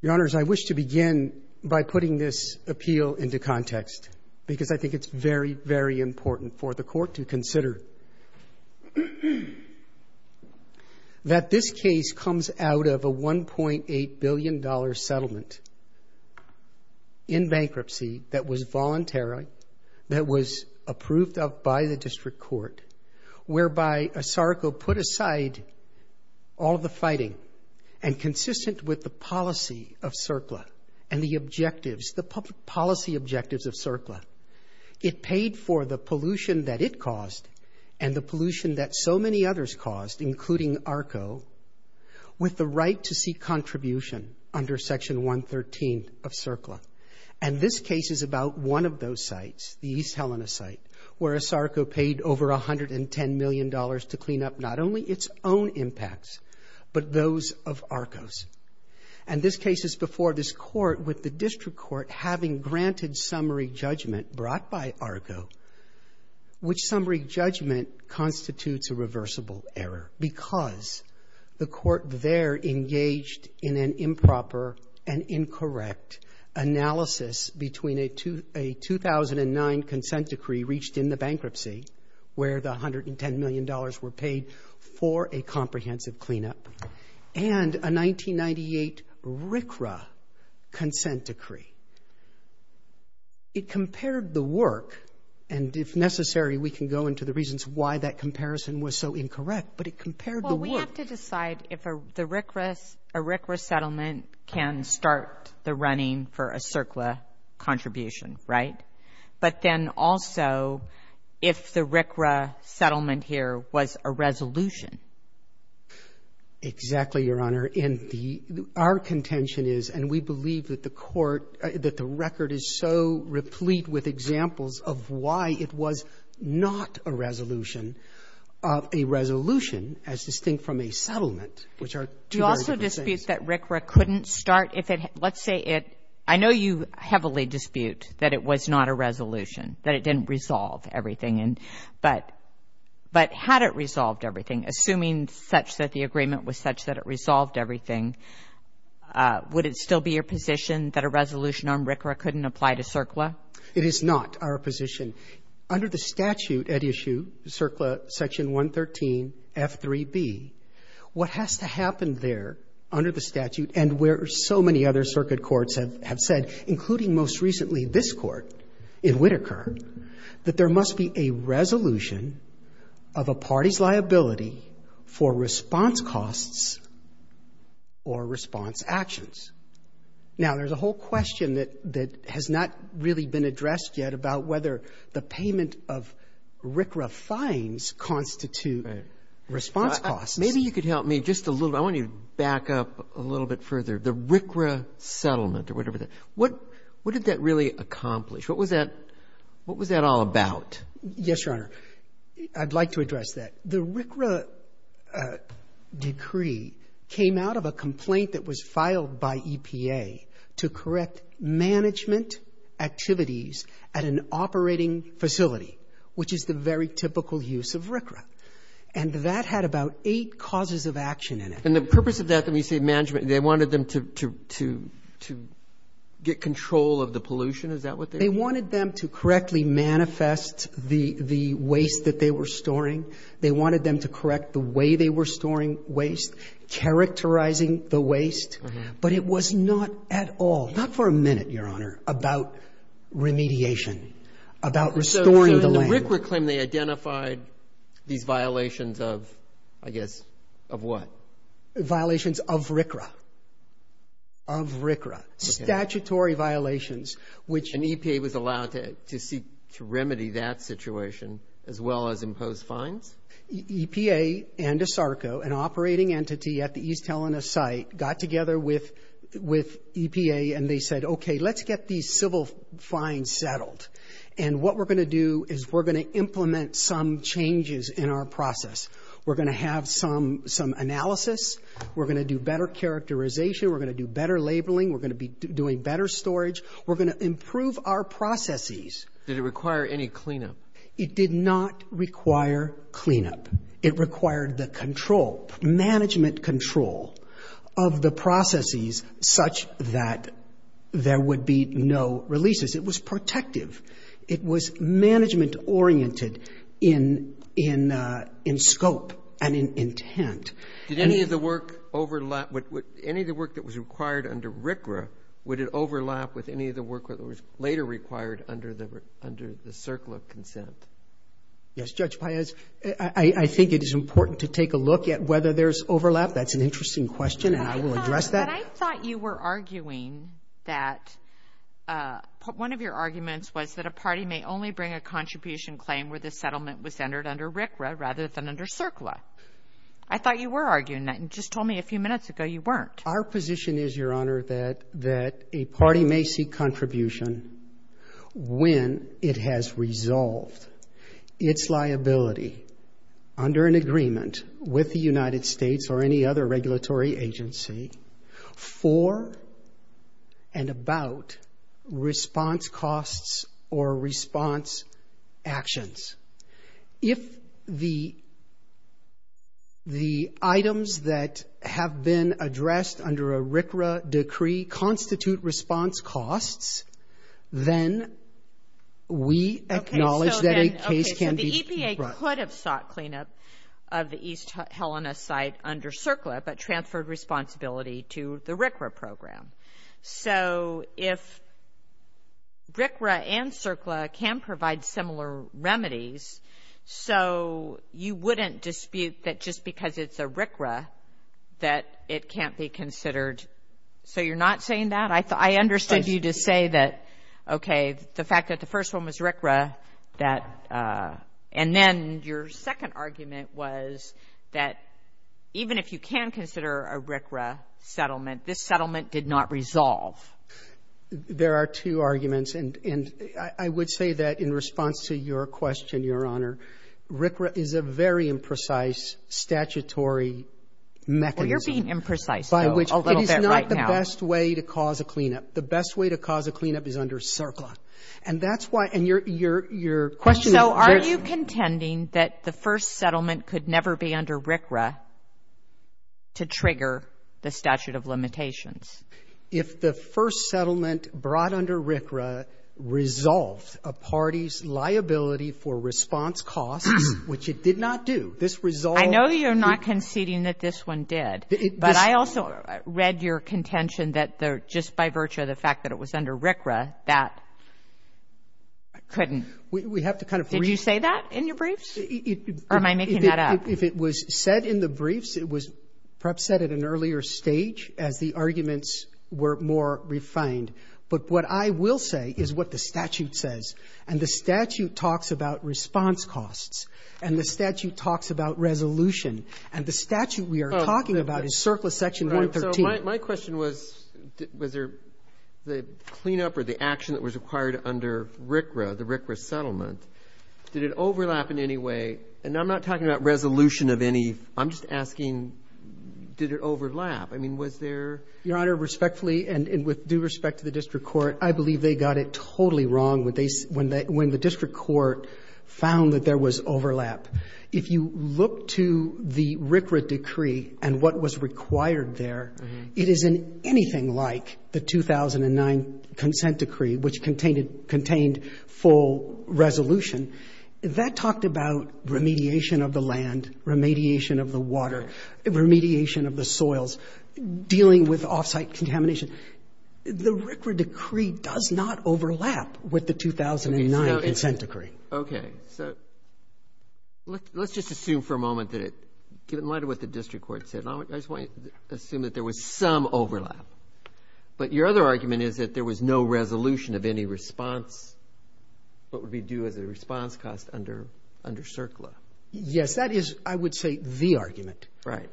Your Honors, I wish to begin by putting this appeal into context because I think it's very, very important for the Court to consider that this case comes out of a $1.8 billion settlement in bankruptcy that was voluntary, that was approved of by the District Court, whereby Asarco put aside all the fighting and consistent with the policy of CERCLA and the objectives, the public policy objectives of CERCLA. It paid for the pollution that it caused and the pollution that so many others caused, including ARCO, with the right to seek contribution under Section 113 of CERCLA. And this case is about one of those sites, the East Helena site, where Asarco paid over $110 million to clean up not only its own impacts, but those of ARCO's. And this case is before this Court with the District Court having granted summary judgment brought by ARCO, which summary judgment constitutes a reversible error because the Court there engaged in an improper and incorrect analysis between a 2009 consent decree reached in the area where the $110 million were paid for a comprehensive cleanup and a 1998 RCRA consent decree. It compared the work, and if necessary, we can go into the reasons why that comparison was so incorrect, but it compared the work. Well, we have to decide if the RCRAs, a RCRA settlement can start the running for a CERCLA contribution, right? But then also, if the RCRA settlement here was a resolution. Exactly, Your Honor. And the — our contention is, and we believe that the Court — that the record is so replete with examples of why it was not a resolution, a resolution as distinct from a settlement, which are two very different things. Do you also dispute that RCRA couldn't start if it — let's say it — I know you heavily dispute that it was not a resolution, that it didn't resolve everything. But had it resolved everything, assuming such that the agreement was such that it resolved everything, would it still be your position that a resolution on RCRA couldn't apply to CERCLA? It is not our position. Under the statute at issue, CERCLA Section 113, F3b, what has to happen there under the most recently this Court in Whitaker, that there must be a resolution of a party's liability for response costs or response actions. Now, there's a whole question that — that has not really been addressed yet about whether the payment of RCRA fines constitute response costs. Maybe you could help me just a little. I want you to back up a little bit further. The RCRA settlement or whatever the — what — what did that really accomplish? What was that — what was that all about? Yes, Your Honor. I'd like to address that. The RCRA decree came out of a complaint that was filed by EPA to correct management activities at an operating facility, which is the very typical use of RCRA. And that had about eight causes of action in it. And the purpose of that, when you say management, they wanted them to — to — to get control of the pollution? Is that what they mean? They wanted them to correctly manifest the — the waste that they were storing. They wanted them to correct the way they were storing waste, characterizing the waste. But it was not at all, not for a minute, Your Honor, about remediation, about restoring the land. The RCRA claim they identified these violations of, I guess, of what? Violations of RCRA. Of RCRA. Statutory violations, which — And EPA was allowed to — to seek to remedy that situation, as well as impose fines? EPA and ASARCO, an operating entity at the East Helena site, got together with — with EPA, and they said, okay, let's get these civil fines settled. And what we're going to do is we're going to implement some changes in our process. We're going to have some — some analysis. We're going to do better characterization. We're going to do better labeling. We're going to be doing better storage. We're going to improve our processes. Did it require any cleanup? It did not require cleanup. It required the control, management control, of the processes such that there would be no releases. It was protective. It was management-oriented in — in — in scope and in intent. Did any of the work overlap — would any of the work that was required under RCRA, would it overlap with any of the work that was later required under the — under the Circle of Consent? Yes, Judge Paez, I — I think it is important to take a look at whether there's overlap. That's an interesting question, and I will address that. But I thought you were arguing that — one of your arguments was that a party may only bring a contribution claim where the settlement was entered under RCRA rather than under CERCLA. I thought you were arguing that. You just told me a few minutes ago you weren't. Our position is, Your Honor, that — that a party may seek contribution when it has for and about response costs or response actions. If the — the items that have been addressed under a RCRA decree constitute response costs, then we acknowledge that a case can be — Okay. So then — okay. So the EPA could have sought cleanup of the East Helena site under CERCLA but transferred responsibility to the RCRA program. So if RCRA and CERCLA can provide similar remedies, so you wouldn't dispute that just because it's a RCRA that it can't be considered — so you're not saying that? I — I understood you to say that, okay, the fact that the first one was RCRA, that And then your second argument was that even if you can consider a RCRA settlement, this settlement did not resolve. There are two arguments, and — and I would say that in response to your question, Your Honor, RCRA is a very imprecise statutory mechanism. Well, you're being imprecise, though, a little bit right now. By which it is not the best way to cause a cleanup. The best way to cause a cleanup is under CERCLA. And that's why — and your — your question is — So are you contending that the first settlement could never be under RCRA to trigger the statute of limitations? If the first settlement brought under RCRA resolved a party's liability for response costs, which it did not do, this resolved — I know you're not conceding that this one did, but I also read your contention that just by virtue of the fact that it was under RCRA, that couldn't — We have to kind of — Did you say that in your briefs? Or am I making that up? If it was said in the briefs, it was perhaps said at an earlier stage as the arguments were more refined. But what I will say is what the statute says. And the statute talks about response costs. And the statute talks about resolution. And the statute we are talking about is CERCLA Section 113. So my question was, was there the cleanup or the action that was required under RCRA, the RCRA settlement, did it overlap in any way? And I'm not talking about resolution of any — I'm just asking, did it overlap? I mean, was there — Your Honor, respectfully and with due respect to the district court, I believe they got it totally wrong when they — when the district court found that there was overlap. If you look to the RCRA decree and what was required there, it isn't anything like the 2009 consent decree, which contained full resolution. That talked about remediation of the land, remediation of the water, remediation of the soils, dealing with off-site contamination. The RCRA decree does not overlap with the 2009 consent decree. Okay. So let's just assume for a moment that it — given what the district court said, I just want you to assume that there was some overlap. But your other argument is that there was no resolution of any response, what would be due as a response cost under CERCLA. Yes. That is, I would say, the argument. Right.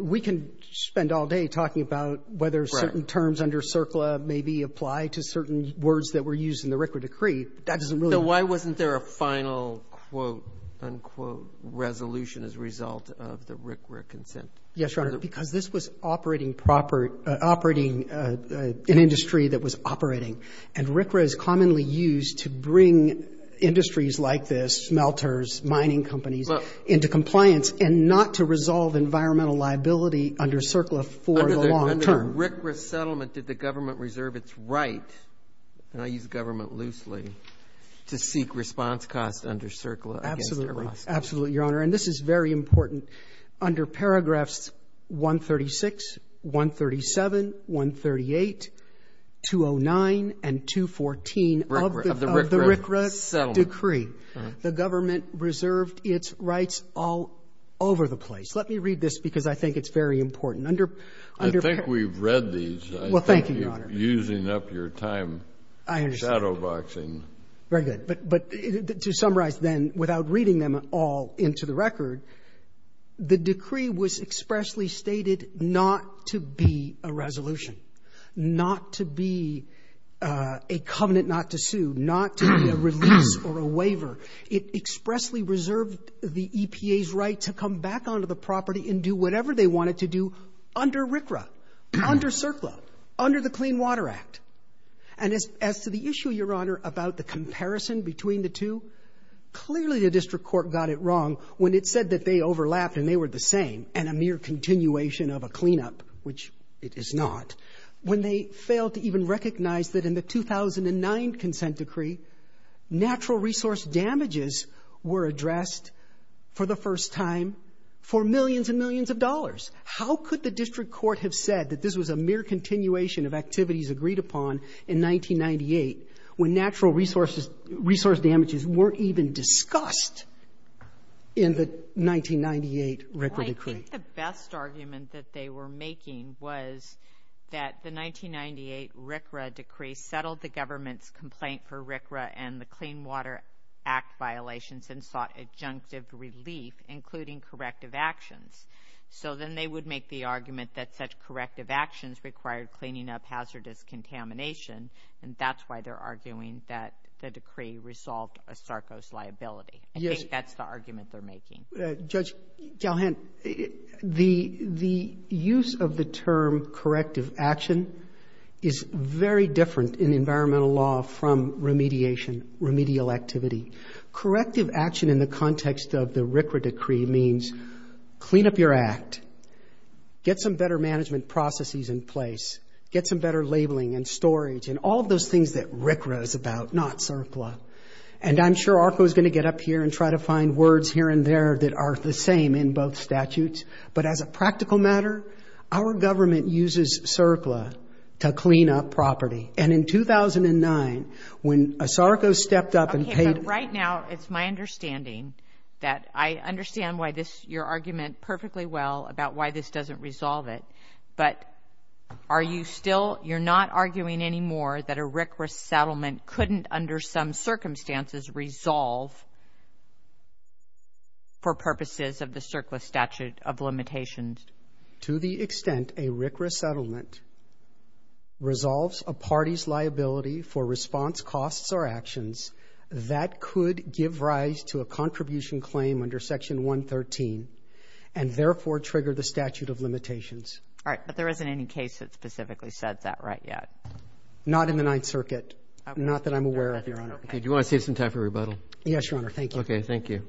We can spend all day talking about whether certain terms under CERCLA maybe apply to certain words that were used in the RCRA decree. That doesn't really — So why wasn't there a final, quote, unquote, resolution as a result of the RCRA consent? Yes, Your Honor, because this was operating an industry that was operating. And RCRA is commonly used to bring industries like this, smelters, mining companies, into compliance and not to resolve environmental liability under CERCLA for the long term. Under the RCRA settlement, did the government reserve its right — and I use the word government loosely — to seek response costs under CERCLA against Erosco? Absolutely, Your Honor. And this is very important. Under paragraphs 136, 137, 138, 209, and 214 of the RCRA decree, the government reserved its rights all over the place. Let me read this, because I think it's very important. Under — I think we've read these. Well, thank you, Your Honor. I think you're using up your time. I understand. I'm shadowboxing. Very good. But to summarize, then, without reading them all into the record, the decree was expressly stated not to be a resolution, not to be a covenant not to sue, not to be a release or a waiver. It expressly reserved the EPA's right to come back onto the property and do whatever they wanted to do under RCRA, under CERCLA, under the Clean Water Act. And as to the issue, Your Honor, about the comparison between the two, clearly the district court got it wrong when it said that they overlapped and they were the same and a mere continuation of a cleanup, which it is not, when they failed to even recognize that in the 2009 consent decree, natural resource damages were addressed for the first time for millions and millions of dollars. How could the district court have said that this was a mere continuation of activities agreed upon in 1998 when natural resource damages weren't even discussed in the 1998 RCRA decree? Well, I think the best argument that they were making was that the 1998 RCRA decree settled the government's complaint for RCRA and the Clean Water Act violations and sought adjunctive relief, including corrective actions. So then they would make the argument that such corrective actions required cleaning up hazardous contamination, and that's why they're arguing that the decree resolved a SARCOS liability. I think that's the argument they're making. Judge Galhen, the use of the term corrective action is very different in environmental law from remediation, remedial activity. Corrective action in the context of the RCRA decree means clean up your act, get some better management processes in place, get some better labeling and storage, and all of those things that RCRA is about, not SARCLA. And I'm sure ARCO is going to get up here and try to find words here and there that are the same in both statutes. But as a practical matter, our government uses SARCLA to clean up property. And in 2009, when a SARCO stepped up and paid... Okay, but right now, it's my understanding that I understand why this, your argument perfectly well about why this doesn't resolve it. But are you still... You're not arguing anymore that a RCRA settlement couldn't, under some circumstances, resolve for purposes of the SARCLA statute of limitations? To the extent a RCRA settlement resolves a party's liability for response costs or and therefore trigger the statute of limitations. All right. But there isn't any case that specifically said that right yet? Not in the Ninth Circuit. Not that I'm aware of, Your Honor. Do you want to save some time for rebuttal? Yes, Your Honor. Thank you. Okay. Thank you.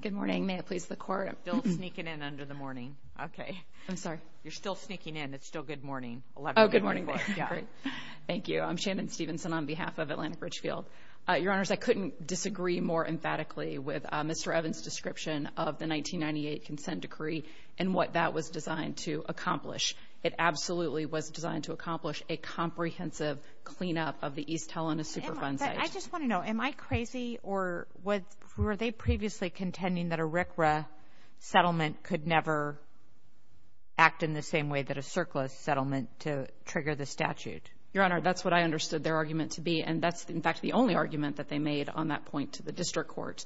Good morning. May it please the Court? Bill's sneaking in under the morning. Okay. I'm sorry. You're still sneaking in. It's still good morning. 11 o'clock. Oh, good morning. Good morning. Thank you. I'm Shannon Stevenson on behalf of Atlantic Ridge Field. Your Honors, I couldn't disagree more emphatically with Mr. Evans' description of the 1998 consent decree and what that was designed to accomplish. It absolutely was designed to accomplish a comprehensive cleanup of the East Helena Superfund site. I just want to know, am I crazy? Or were they previously contending that a RCRA settlement could never act in the same way that a CERCLA settlement to trigger the statute? Your Honor, that's what I understood their argument to be, and that's, in fact, the only argument that they made on that point to the District Court,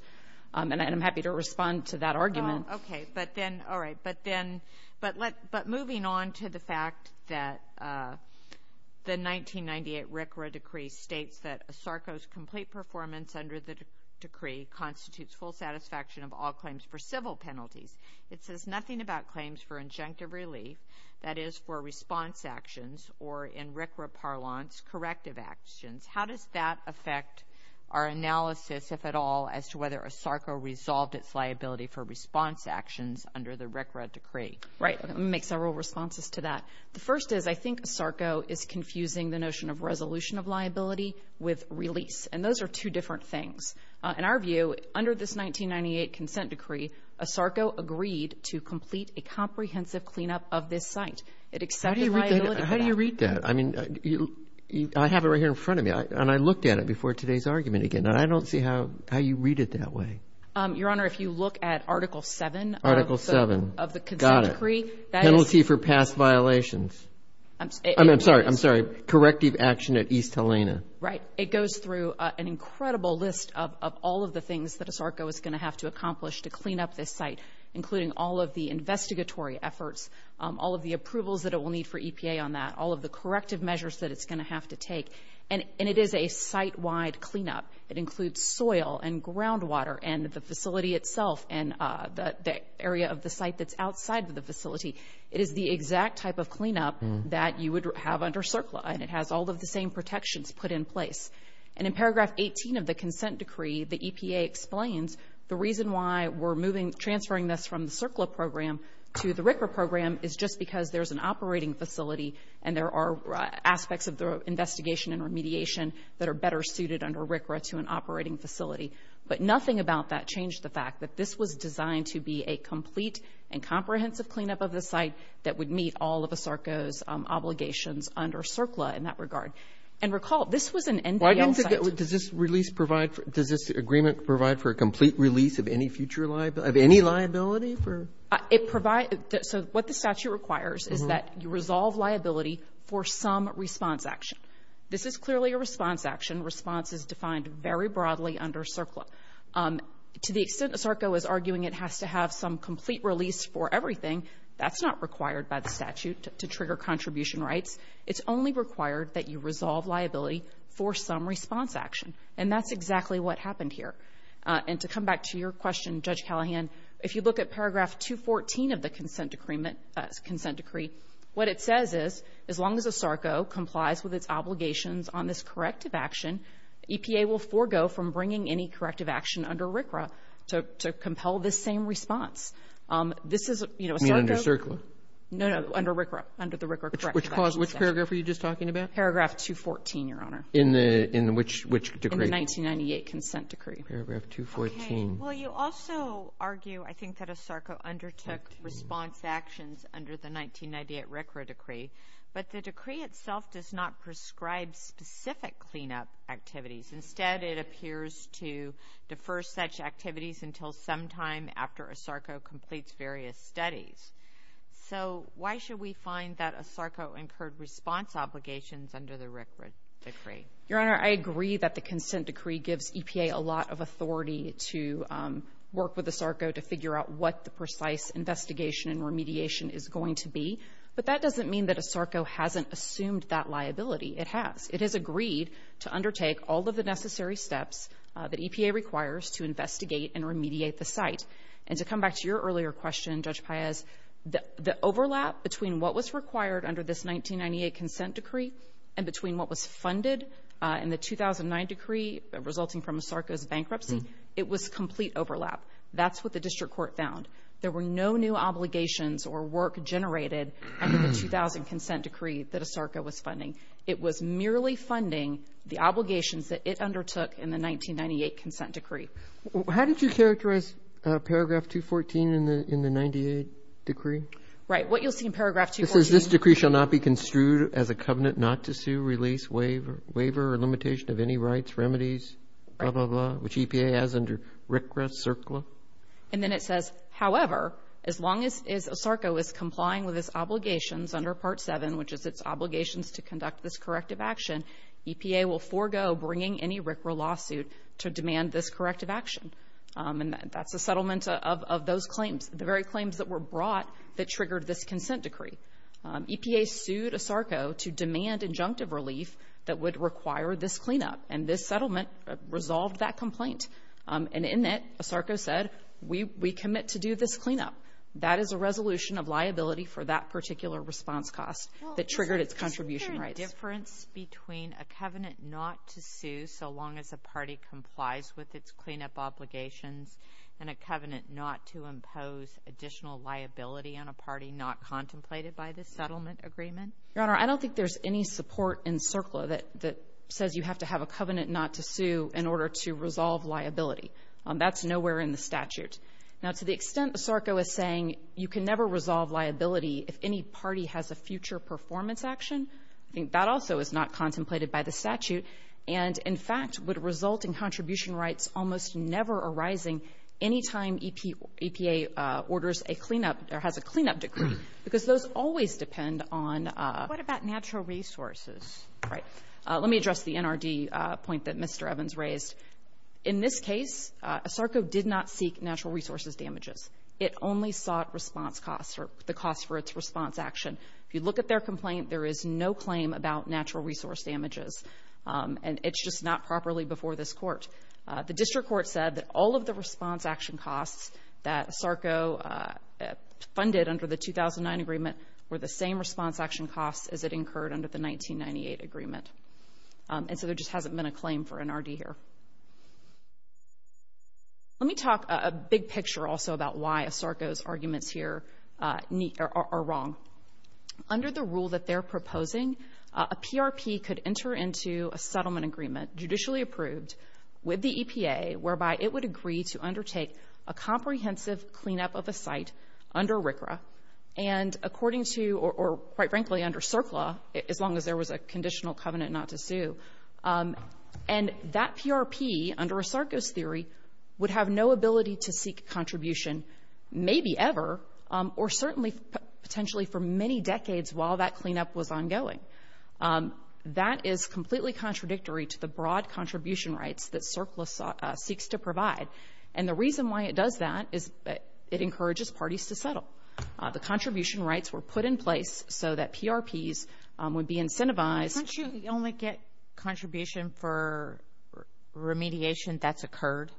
and I'm happy to respond to that argument. Oh, okay. But then, all right. But then, but moving on to the fact that the 1998 RCRA decree states that a SARCO's complete performance under the decree constitutes full satisfaction of all claims for civil penalties. It says nothing about claims for injunctive relief, that is, for response actions, or in RCRA parlance, corrective actions. How does that affect our analysis, if at all, as to whether a SARCO resolved its liability for response actions under the RCRA decree? Right. I'm going to make several responses to that. The first is, I think a SARCO is confusing the notion of resolution of liability with release, and those are two different things. In our view, under this 1998 consent decree, a SARCO agreed to complete a comprehensive cleanup of this site. It accepted liability for that. How do you read that? I mean, I have it right here in front of me, and I looked at it before today's argument again, and I don't see how you read it that way. Your Honor, if you look at Article 7 of the consent decree, that is... Got it. Penalty for past violations. I'm sorry. I'm sorry. Corrective action at East Helena. Right. It goes through an incredible list of all of the things that a SARCO is going to have to accomplish to clean up this site, including all of the investigatory efforts, all of the approvals that it will need for EPA on that, all of the corrective measures that it's going to have to take, and it is a site-wide cleanup. It includes soil and groundwater and the facility itself and the area of the site that's outside of the facility. It is the exact type of cleanup that you would have under CERCLA, and it has all of the same protections put in place. And in paragraph 18 of the consent decree, the EPA explains the reason why we're transferring this from the CERCLA program to the RCRA program is just because there's an operating facility and there are aspects of the investigation and remediation that are better suited under RCRA to an operating facility. But nothing about that changed the fact that this was designed to be a complete and comprehensive cleanup of the site that would meet all of a SARCO's obligations under CERCLA in that regard. And recall, this was an NPL site. Why didn't it get – does this release provide – does this agreement provide for a complete release of any future liability – of any liability for – It provides – so what the statute requires is that you resolve liability for some response action. This is clearly a response action. Response is defined very broadly under CERCLA. To the extent that SARCO is arguing it has to have some complete release for everything, that's not required by the statute to trigger contribution rights. It's only required that you resolve liability for some response action. And that's exactly what happened here. And to come back to your question, Judge Callahan, if you look at paragraph 214 of the consent decree, what it says is, as long as a SARCO complies with its obligations on this corrective action, EPA will forego from bringing any corrective action under RCRA to compel this same response. This is – You mean under CERCLA? No, no. Under RCRA. Under the RCRA corrective action section. Which cause? Which paragraph were you just talking about? Paragraph 214, Your Honor. In the – in which decree? In the 1998 consent decree. Paragraph 214. Okay. Well, you also argue, I think, that a SARCO undertook response actions under the 1998 RCRA decree. But the decree itself does not prescribe specific cleanup activities. Instead, it appears to defer such activities until sometime after a SARCO completes various studies. So, why should we find that a SARCO incurred response obligations under the RCRA decree? Your Honor, I agree that the consent decree gives EPA a lot of authority to work with a SARCO to figure out what the precise investigation and remediation is going to be. But that doesn't mean that a SARCO hasn't assumed that liability. It has. It has agreed to undertake all of the necessary steps that EPA requires to investigate and remediate the site. And to come back to your earlier question, Judge Paez, the overlap between what was required under this 1998 consent decree and between what was funded in the 2009 decree resulting from a SARCO's bankruptcy, it was complete overlap. That's what the district court found. There were no new obligations or work generated under the 2000 consent decree that a SARCO was funding. It was merely funding the obligations that it undertook in the 1998 consent decree. How did you characterize paragraph 214 in the 98 decree? Right. What you'll see in paragraph 214. It says, this decree shall not be construed as a covenant not to sue, release, waiver, or limitation of any rights, remedies, blah, blah, blah, which EPA has under RCRA, CERCLA. And then it says, however, as long as a SARCO is complying with its obligations under part 7, which is its obligations to conduct this corrective action, EPA will forego bringing any RCRA lawsuit to demand this corrective action. And that's a settlement of those claims, the very claims that were brought that triggered this consent decree. EPA sued a SARCO to demand injunctive relief that would require this cleanup. And this settlement resolved that complaint. And in it, a SARCO said, we commit to do this cleanup. That is a resolution of liability for that particular response cost that triggered its contribution rights. Is there a difference between a covenant not to sue so long as a party complies with its cleanup obligations and a covenant not to impose additional liability on a party not contemplated by the settlement agreement? Your Honor, I don't think there's any support in CERCLA that says you have to have a covenant not to sue in order to resolve liability. That's nowhere in the statute. Now, to the extent the SARCO is saying you can never resolve liability if any party has a future performance action, I think that also is not contemplated by the statute. And in fact, would result in contribution rights almost never arising any time EPA orders a cleanup or has a cleanup decree, because those always depend on — What about natural resources? Right. Let me address the NRD point that Mr. Evans raised. In this case, a SARCO did not seek natural resources damages. It only sought response costs or the cost for its response action. If you look at their complaint, there is no claim about natural resource damages. And it's just not properly before this Court. The district court said that all of the response action costs that a SARCO funded under the And so there just hasn't been a claim for NRD here. Let me talk a big picture also about why a SARCO's arguments here are wrong. Under the rule that they're proposing, a PRP could enter into a settlement agreement judicially approved with the EPA whereby it would agree to undertake a comprehensive cleanup of a site under RCRA and according to — or quite frankly, under CERCLA, as long as there was a conditional covenant not to sue. And that PRP, under a SARCO's theory, would have no ability to seek contribution maybe ever or certainly potentially for many decades while that cleanup was ongoing. That is completely contradictory to the broad contribution rights that CERCLA seeks to provide. And the reason why it does that is it encourages parties to settle. The contribution rights were put in place so that PRPs would be incentivized — Don't you only get contribution for remediation that's occurred?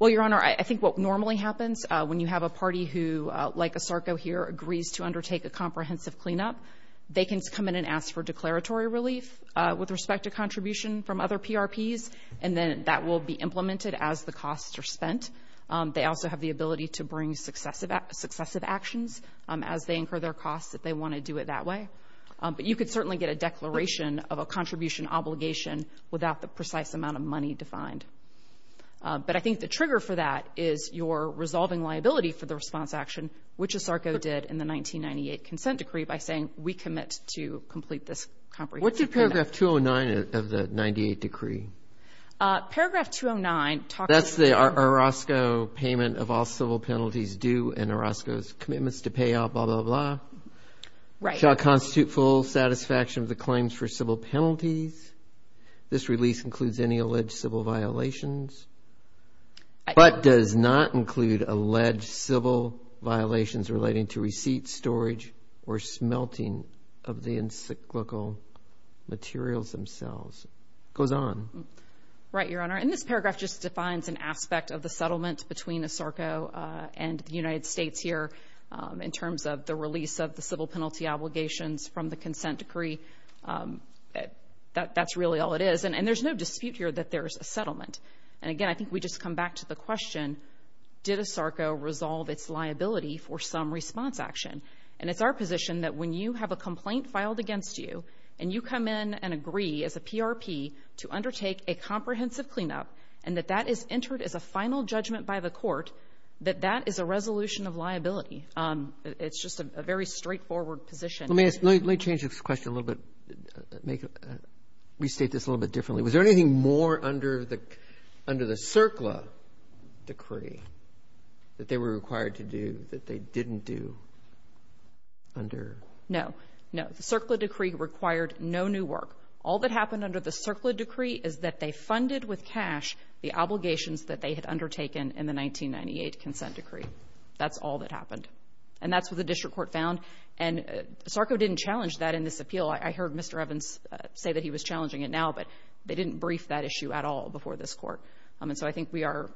Well, Your Honor, I think what normally happens when you have a party who, like a SARCO here, agrees to undertake a comprehensive cleanup, they can come in and ask for declaratory relief with respect to contribution from other PRPs and then that will be implemented as the costs are spent. They also have the ability to bring successive actions as they incur their costs if they want to do it that way. But you could certainly get a declaration of a contribution obligation without the precise amount of money defined. But I think the trigger for that is your resolving liability for the response action, which a SARCO did in the 1998 consent decree by saying, we commit to complete this comprehensive cleanup. What did paragraph 209 of the 98 decree? Paragraph 209 — That's the Orozco payment of all civil penalties due and Orozco's commitments to pay out, blah, blah, blah. Right. Shall constitute full satisfaction of the claims for civil penalties. This release includes any alleged civil violations, but does not include alleged civil violations relating to receipt storage or smelting of the encyclical materials themselves. Goes on. Right, Your Honor. And this paragraph just defines an aspect of the settlement between a SARCO and the United States here in terms of the release of the civil penalty obligations from the consent decree. That's really all it is. And there's no dispute here that there is a settlement. And again, I think we just come back to the question, did a SARCO resolve its liability for some response action? And it's our position that when you have a complaint filed against you and you come in and agree as a PRP to undertake a comprehensive cleanup and that that is entered as a final judgment by the court, that that is a resolution of liability. It's just a very straightforward position. Let me ask — let me change this question a little bit, make — restate this a little bit differently. Was there anything more under the — under the CERCLA decree that they were required to do that they didn't do under — No. No. The CERCLA decree required no new work. All that happened under the CERCLA decree is that they funded with cash the obligations that they had undertaken in the 1998 consent decree. That's all that happened. And that's what the district court found. And SARCO didn't challenge that in this appeal. I heard Mr. Evans say that he was challenging it now, but they didn't brief that issue at all before this Court. And so I think we are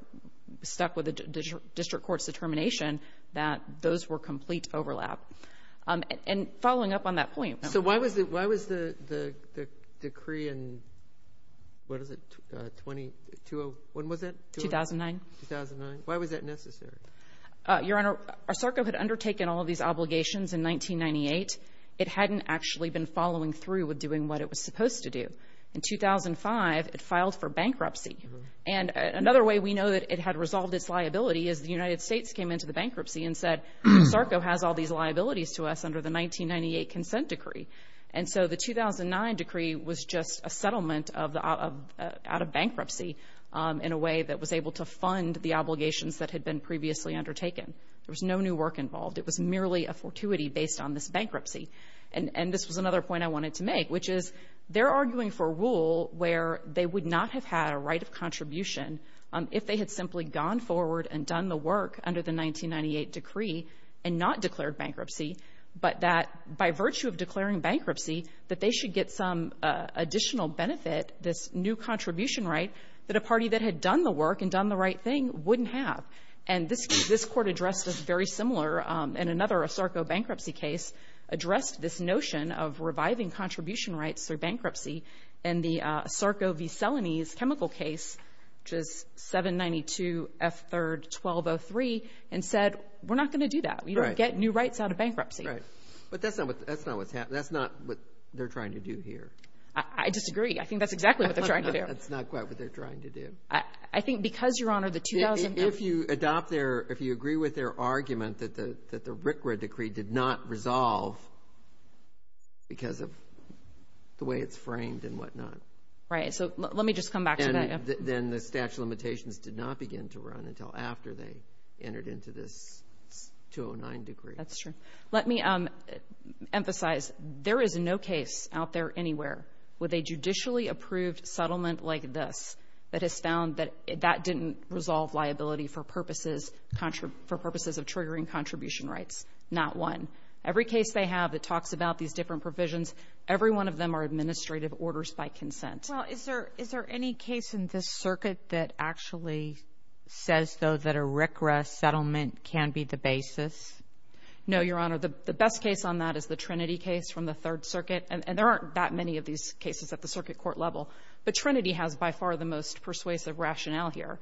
stuck with the district court's determination that those were complete overlap. And following up on that point — So why was the — why was the decree in — what is it, 20 — 20 — when was it? 2009. 2009. Why was that necessary? Your Honor, SARCO had undertaken all of these obligations in 1998. It hadn't actually been following through with doing what it was supposed to do. In 2005, it filed for bankruptcy. And another way we know that it had resolved its liability is the United States came into the bankruptcy and said, SARCO has all these liabilities to us under the 1998 consent decree. And so the 2009 decree was just a settlement of — out of bankruptcy in a way that was able to fund the obligations that had been previously undertaken. There was no new work involved. It was merely a fortuity based on this bankruptcy. And this was another point I wanted to make, which is they're arguing for a rule where they would not have had a right of contribution if they had simply gone forward and done the 1998 decree and not declared bankruptcy, but that by virtue of declaring bankruptcy, that they should get some additional benefit, this new contribution right, that a party that had done the work and done the right thing wouldn't have. And this Court addressed this very similar in another SARCO bankruptcy case, addressed this notion of reviving contribution rights through bankruptcy in the SARCO v. Celanese chemical case, which is 792 F. 3rd 1203, and said, we're not going to do that. We don't get new rights out of bankruptcy. Right. But that's not what's happening. That's not what they're trying to do here. I disagree. I think that's exactly what they're trying to do. That's not quite what they're trying to do. I think because, Your Honor, the — If you adopt their — if you agree with their argument that the RCRA decree did not resolve because of the way it's framed and whatnot. Right. So let me just come back to that. And then the statute of limitations did not begin to run until after they entered into this 209 decree. That's true. Let me emphasize, there is no case out there anywhere with a judicially approved settlement like this that has found that that didn't resolve liability for purposes of triggering contribution rights, not one. Every case they have that talks about these different provisions, every one of them are administrative orders by consent. Well, is there any case in this circuit that actually says, though, that a RCRA settlement can be the basis? No, Your Honor. The best case on that is the Trinity case from the Third Circuit. And there aren't that many of these cases at the circuit court level, but Trinity has by far the most persuasive rationale here.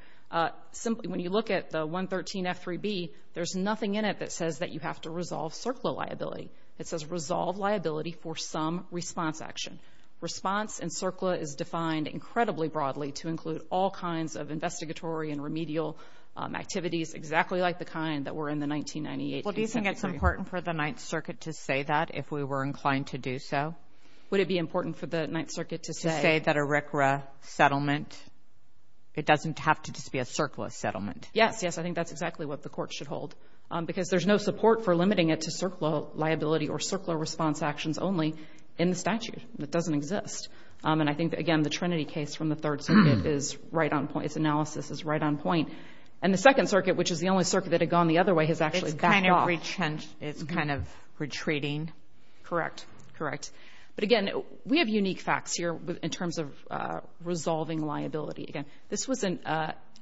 Simply, when you look at the 113F3B, there's nothing in it that says that you have to resolve CERCLA liability. It says resolve liability for some response action. Response and CERCLA is defined incredibly broadly to include all kinds of investigatory and remedial activities exactly like the kind that were in the 1998 consent decree. Well, do you think it's important for the Ninth Circuit to say that if we were inclined to do so? Would it be important for the Ninth Circuit to say? To say that a RCRA settlement, it doesn't have to just be a CERCLA settlement. Yes, yes. I think that's exactly what the court should hold because there's no support for limiting it to CERCLA liability or CERCLA response actions only in the statute. It doesn't exist. And I think, again, the Trinity case from the Third Circuit is right on point. Its analysis is right on point. And the Second Circuit, which is the only circuit that had gone the other way, has actually backed off. It's kind of retreating. Correct. Correct. But, again, we have unique facts here in terms of resolving liability. Again, this was an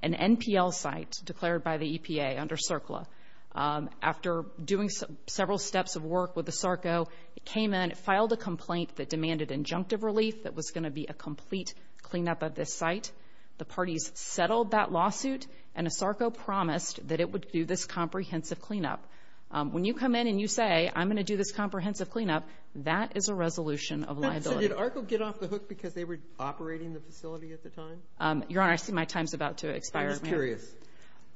NPL site declared by the EPA under CERCLA. After doing several steps of work with ASARCO, it came in, it filed a complaint that demanded injunctive relief that was going to be a complete cleanup of this site. The parties settled that lawsuit, and ASARCO promised that it would do this comprehensive cleanup. When you come in and you say, I'm going to do this comprehensive cleanup, that is a resolution of liability. So did ARCO get off the hook because they were operating the facility at the time? Your Honor, I see my time's about to expire. I'm just curious.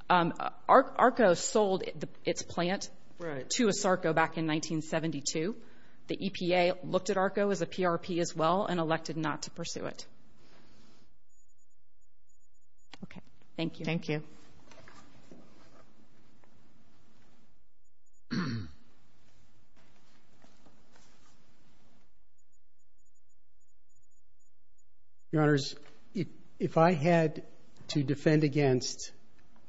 ARCO sold its plant to ASARCO back in 1972. The EPA looked at ARCO as a PRP as well and elected not to pursue it. Okay. Thank you. Thank you. Your Honors, if I had to defend against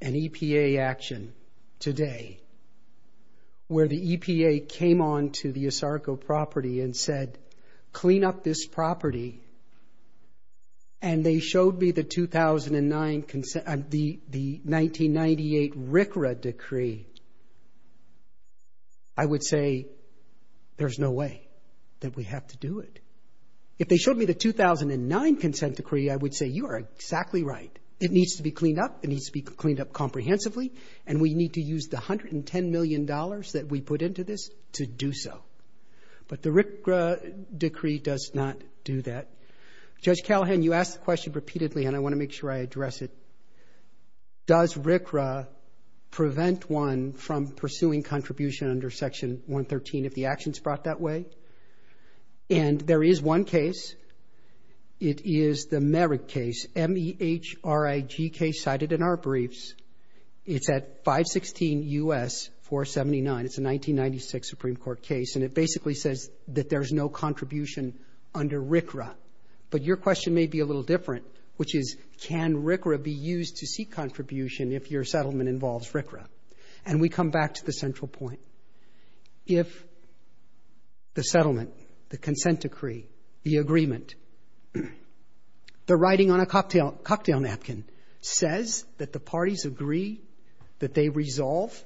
an EPA action today where the EPA came on to the ASARCO property and said, clean up this property, and they showed me the 1999, the 1998 RCRA decree, I would say there's no way that we have to do it. If they showed me the 2009 consent decree, I would say you are exactly right. It needs to be cleaned up, it needs to be cleaned up comprehensively, and we need to use the $110 million that we put into this to do so. But the RCRA decree does not do that. Judge Callahan, you asked the question repeatedly, and I want to make sure I address it. Does RCRA prevent one from pursuing contribution under Section 113 if the action's brought that way? And there is one case. It is the Merrick case, M-E-H-R-I-G case cited in our briefs. It's at 516 U.S. 479. It's a 1996 Supreme Court case, and it basically says that there's no contribution under RCRA. But your question may be a little different, which is, can RCRA be used to seek contribution if your settlement involves RCRA? And we come back to the central point. If the settlement, the consent decree, the agreement, the writing on a cocktail napkin says that the parties agree that they resolve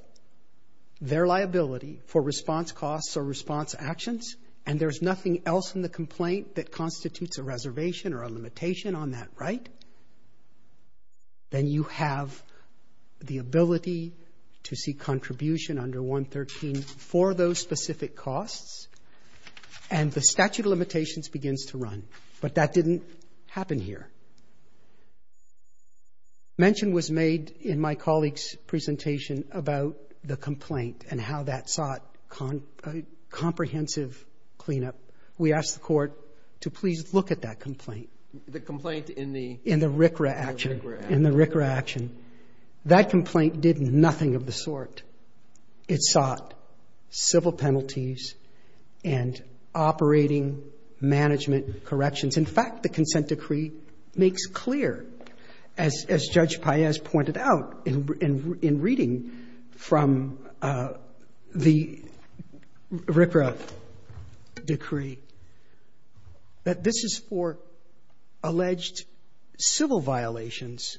their liability for response costs or response actions, and there's nothing else in the complaint that constitutes a reservation or a limitation on that right, then you have the ability to seek contribution under 113 for those specific costs, and the statute of limitations begins to run. But that didn't happen here. Mention was made in my colleague's presentation about the complaint and how that sought comprehensive cleanup. We asked the Court to please look at that complaint. The complaint in the? In the RCRA action. In the RCRA action. That complaint did nothing of the sort. It sought civil penalties and operating management corrections. In fact, the consent decree makes clear, as Judge Paez pointed out in reading from the RCRA decree, that this is for alleged civil violations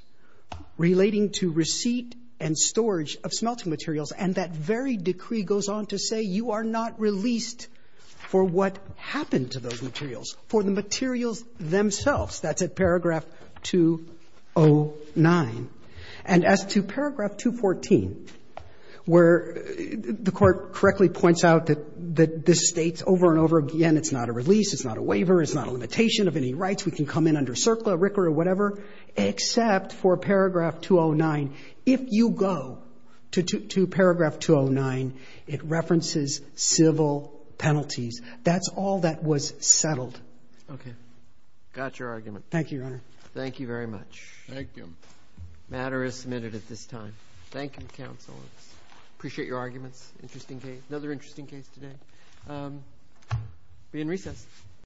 relating to receipt and storage of smelting materials, and that very decree goes on to say you are not released for what happened to those materials, for the materials themselves. That's at paragraph 209. And as to paragraph 214, where the Court correctly points out that this States over and over again it's not a release, it's not a waiver, it's not a limitation of any rights, we can come in under CERCLA, RCRA, whatever, except for paragraph 209. If you go to paragraph 209, it references civil penalties. That's all that was settled. Okay. Got your argument. Thank you, Your Honor. Thank you very much. Thank you. Matter is submitted at this time. Thank you, counsel. Appreciate your arguments. Interesting case. Another interesting case today. We're in recess.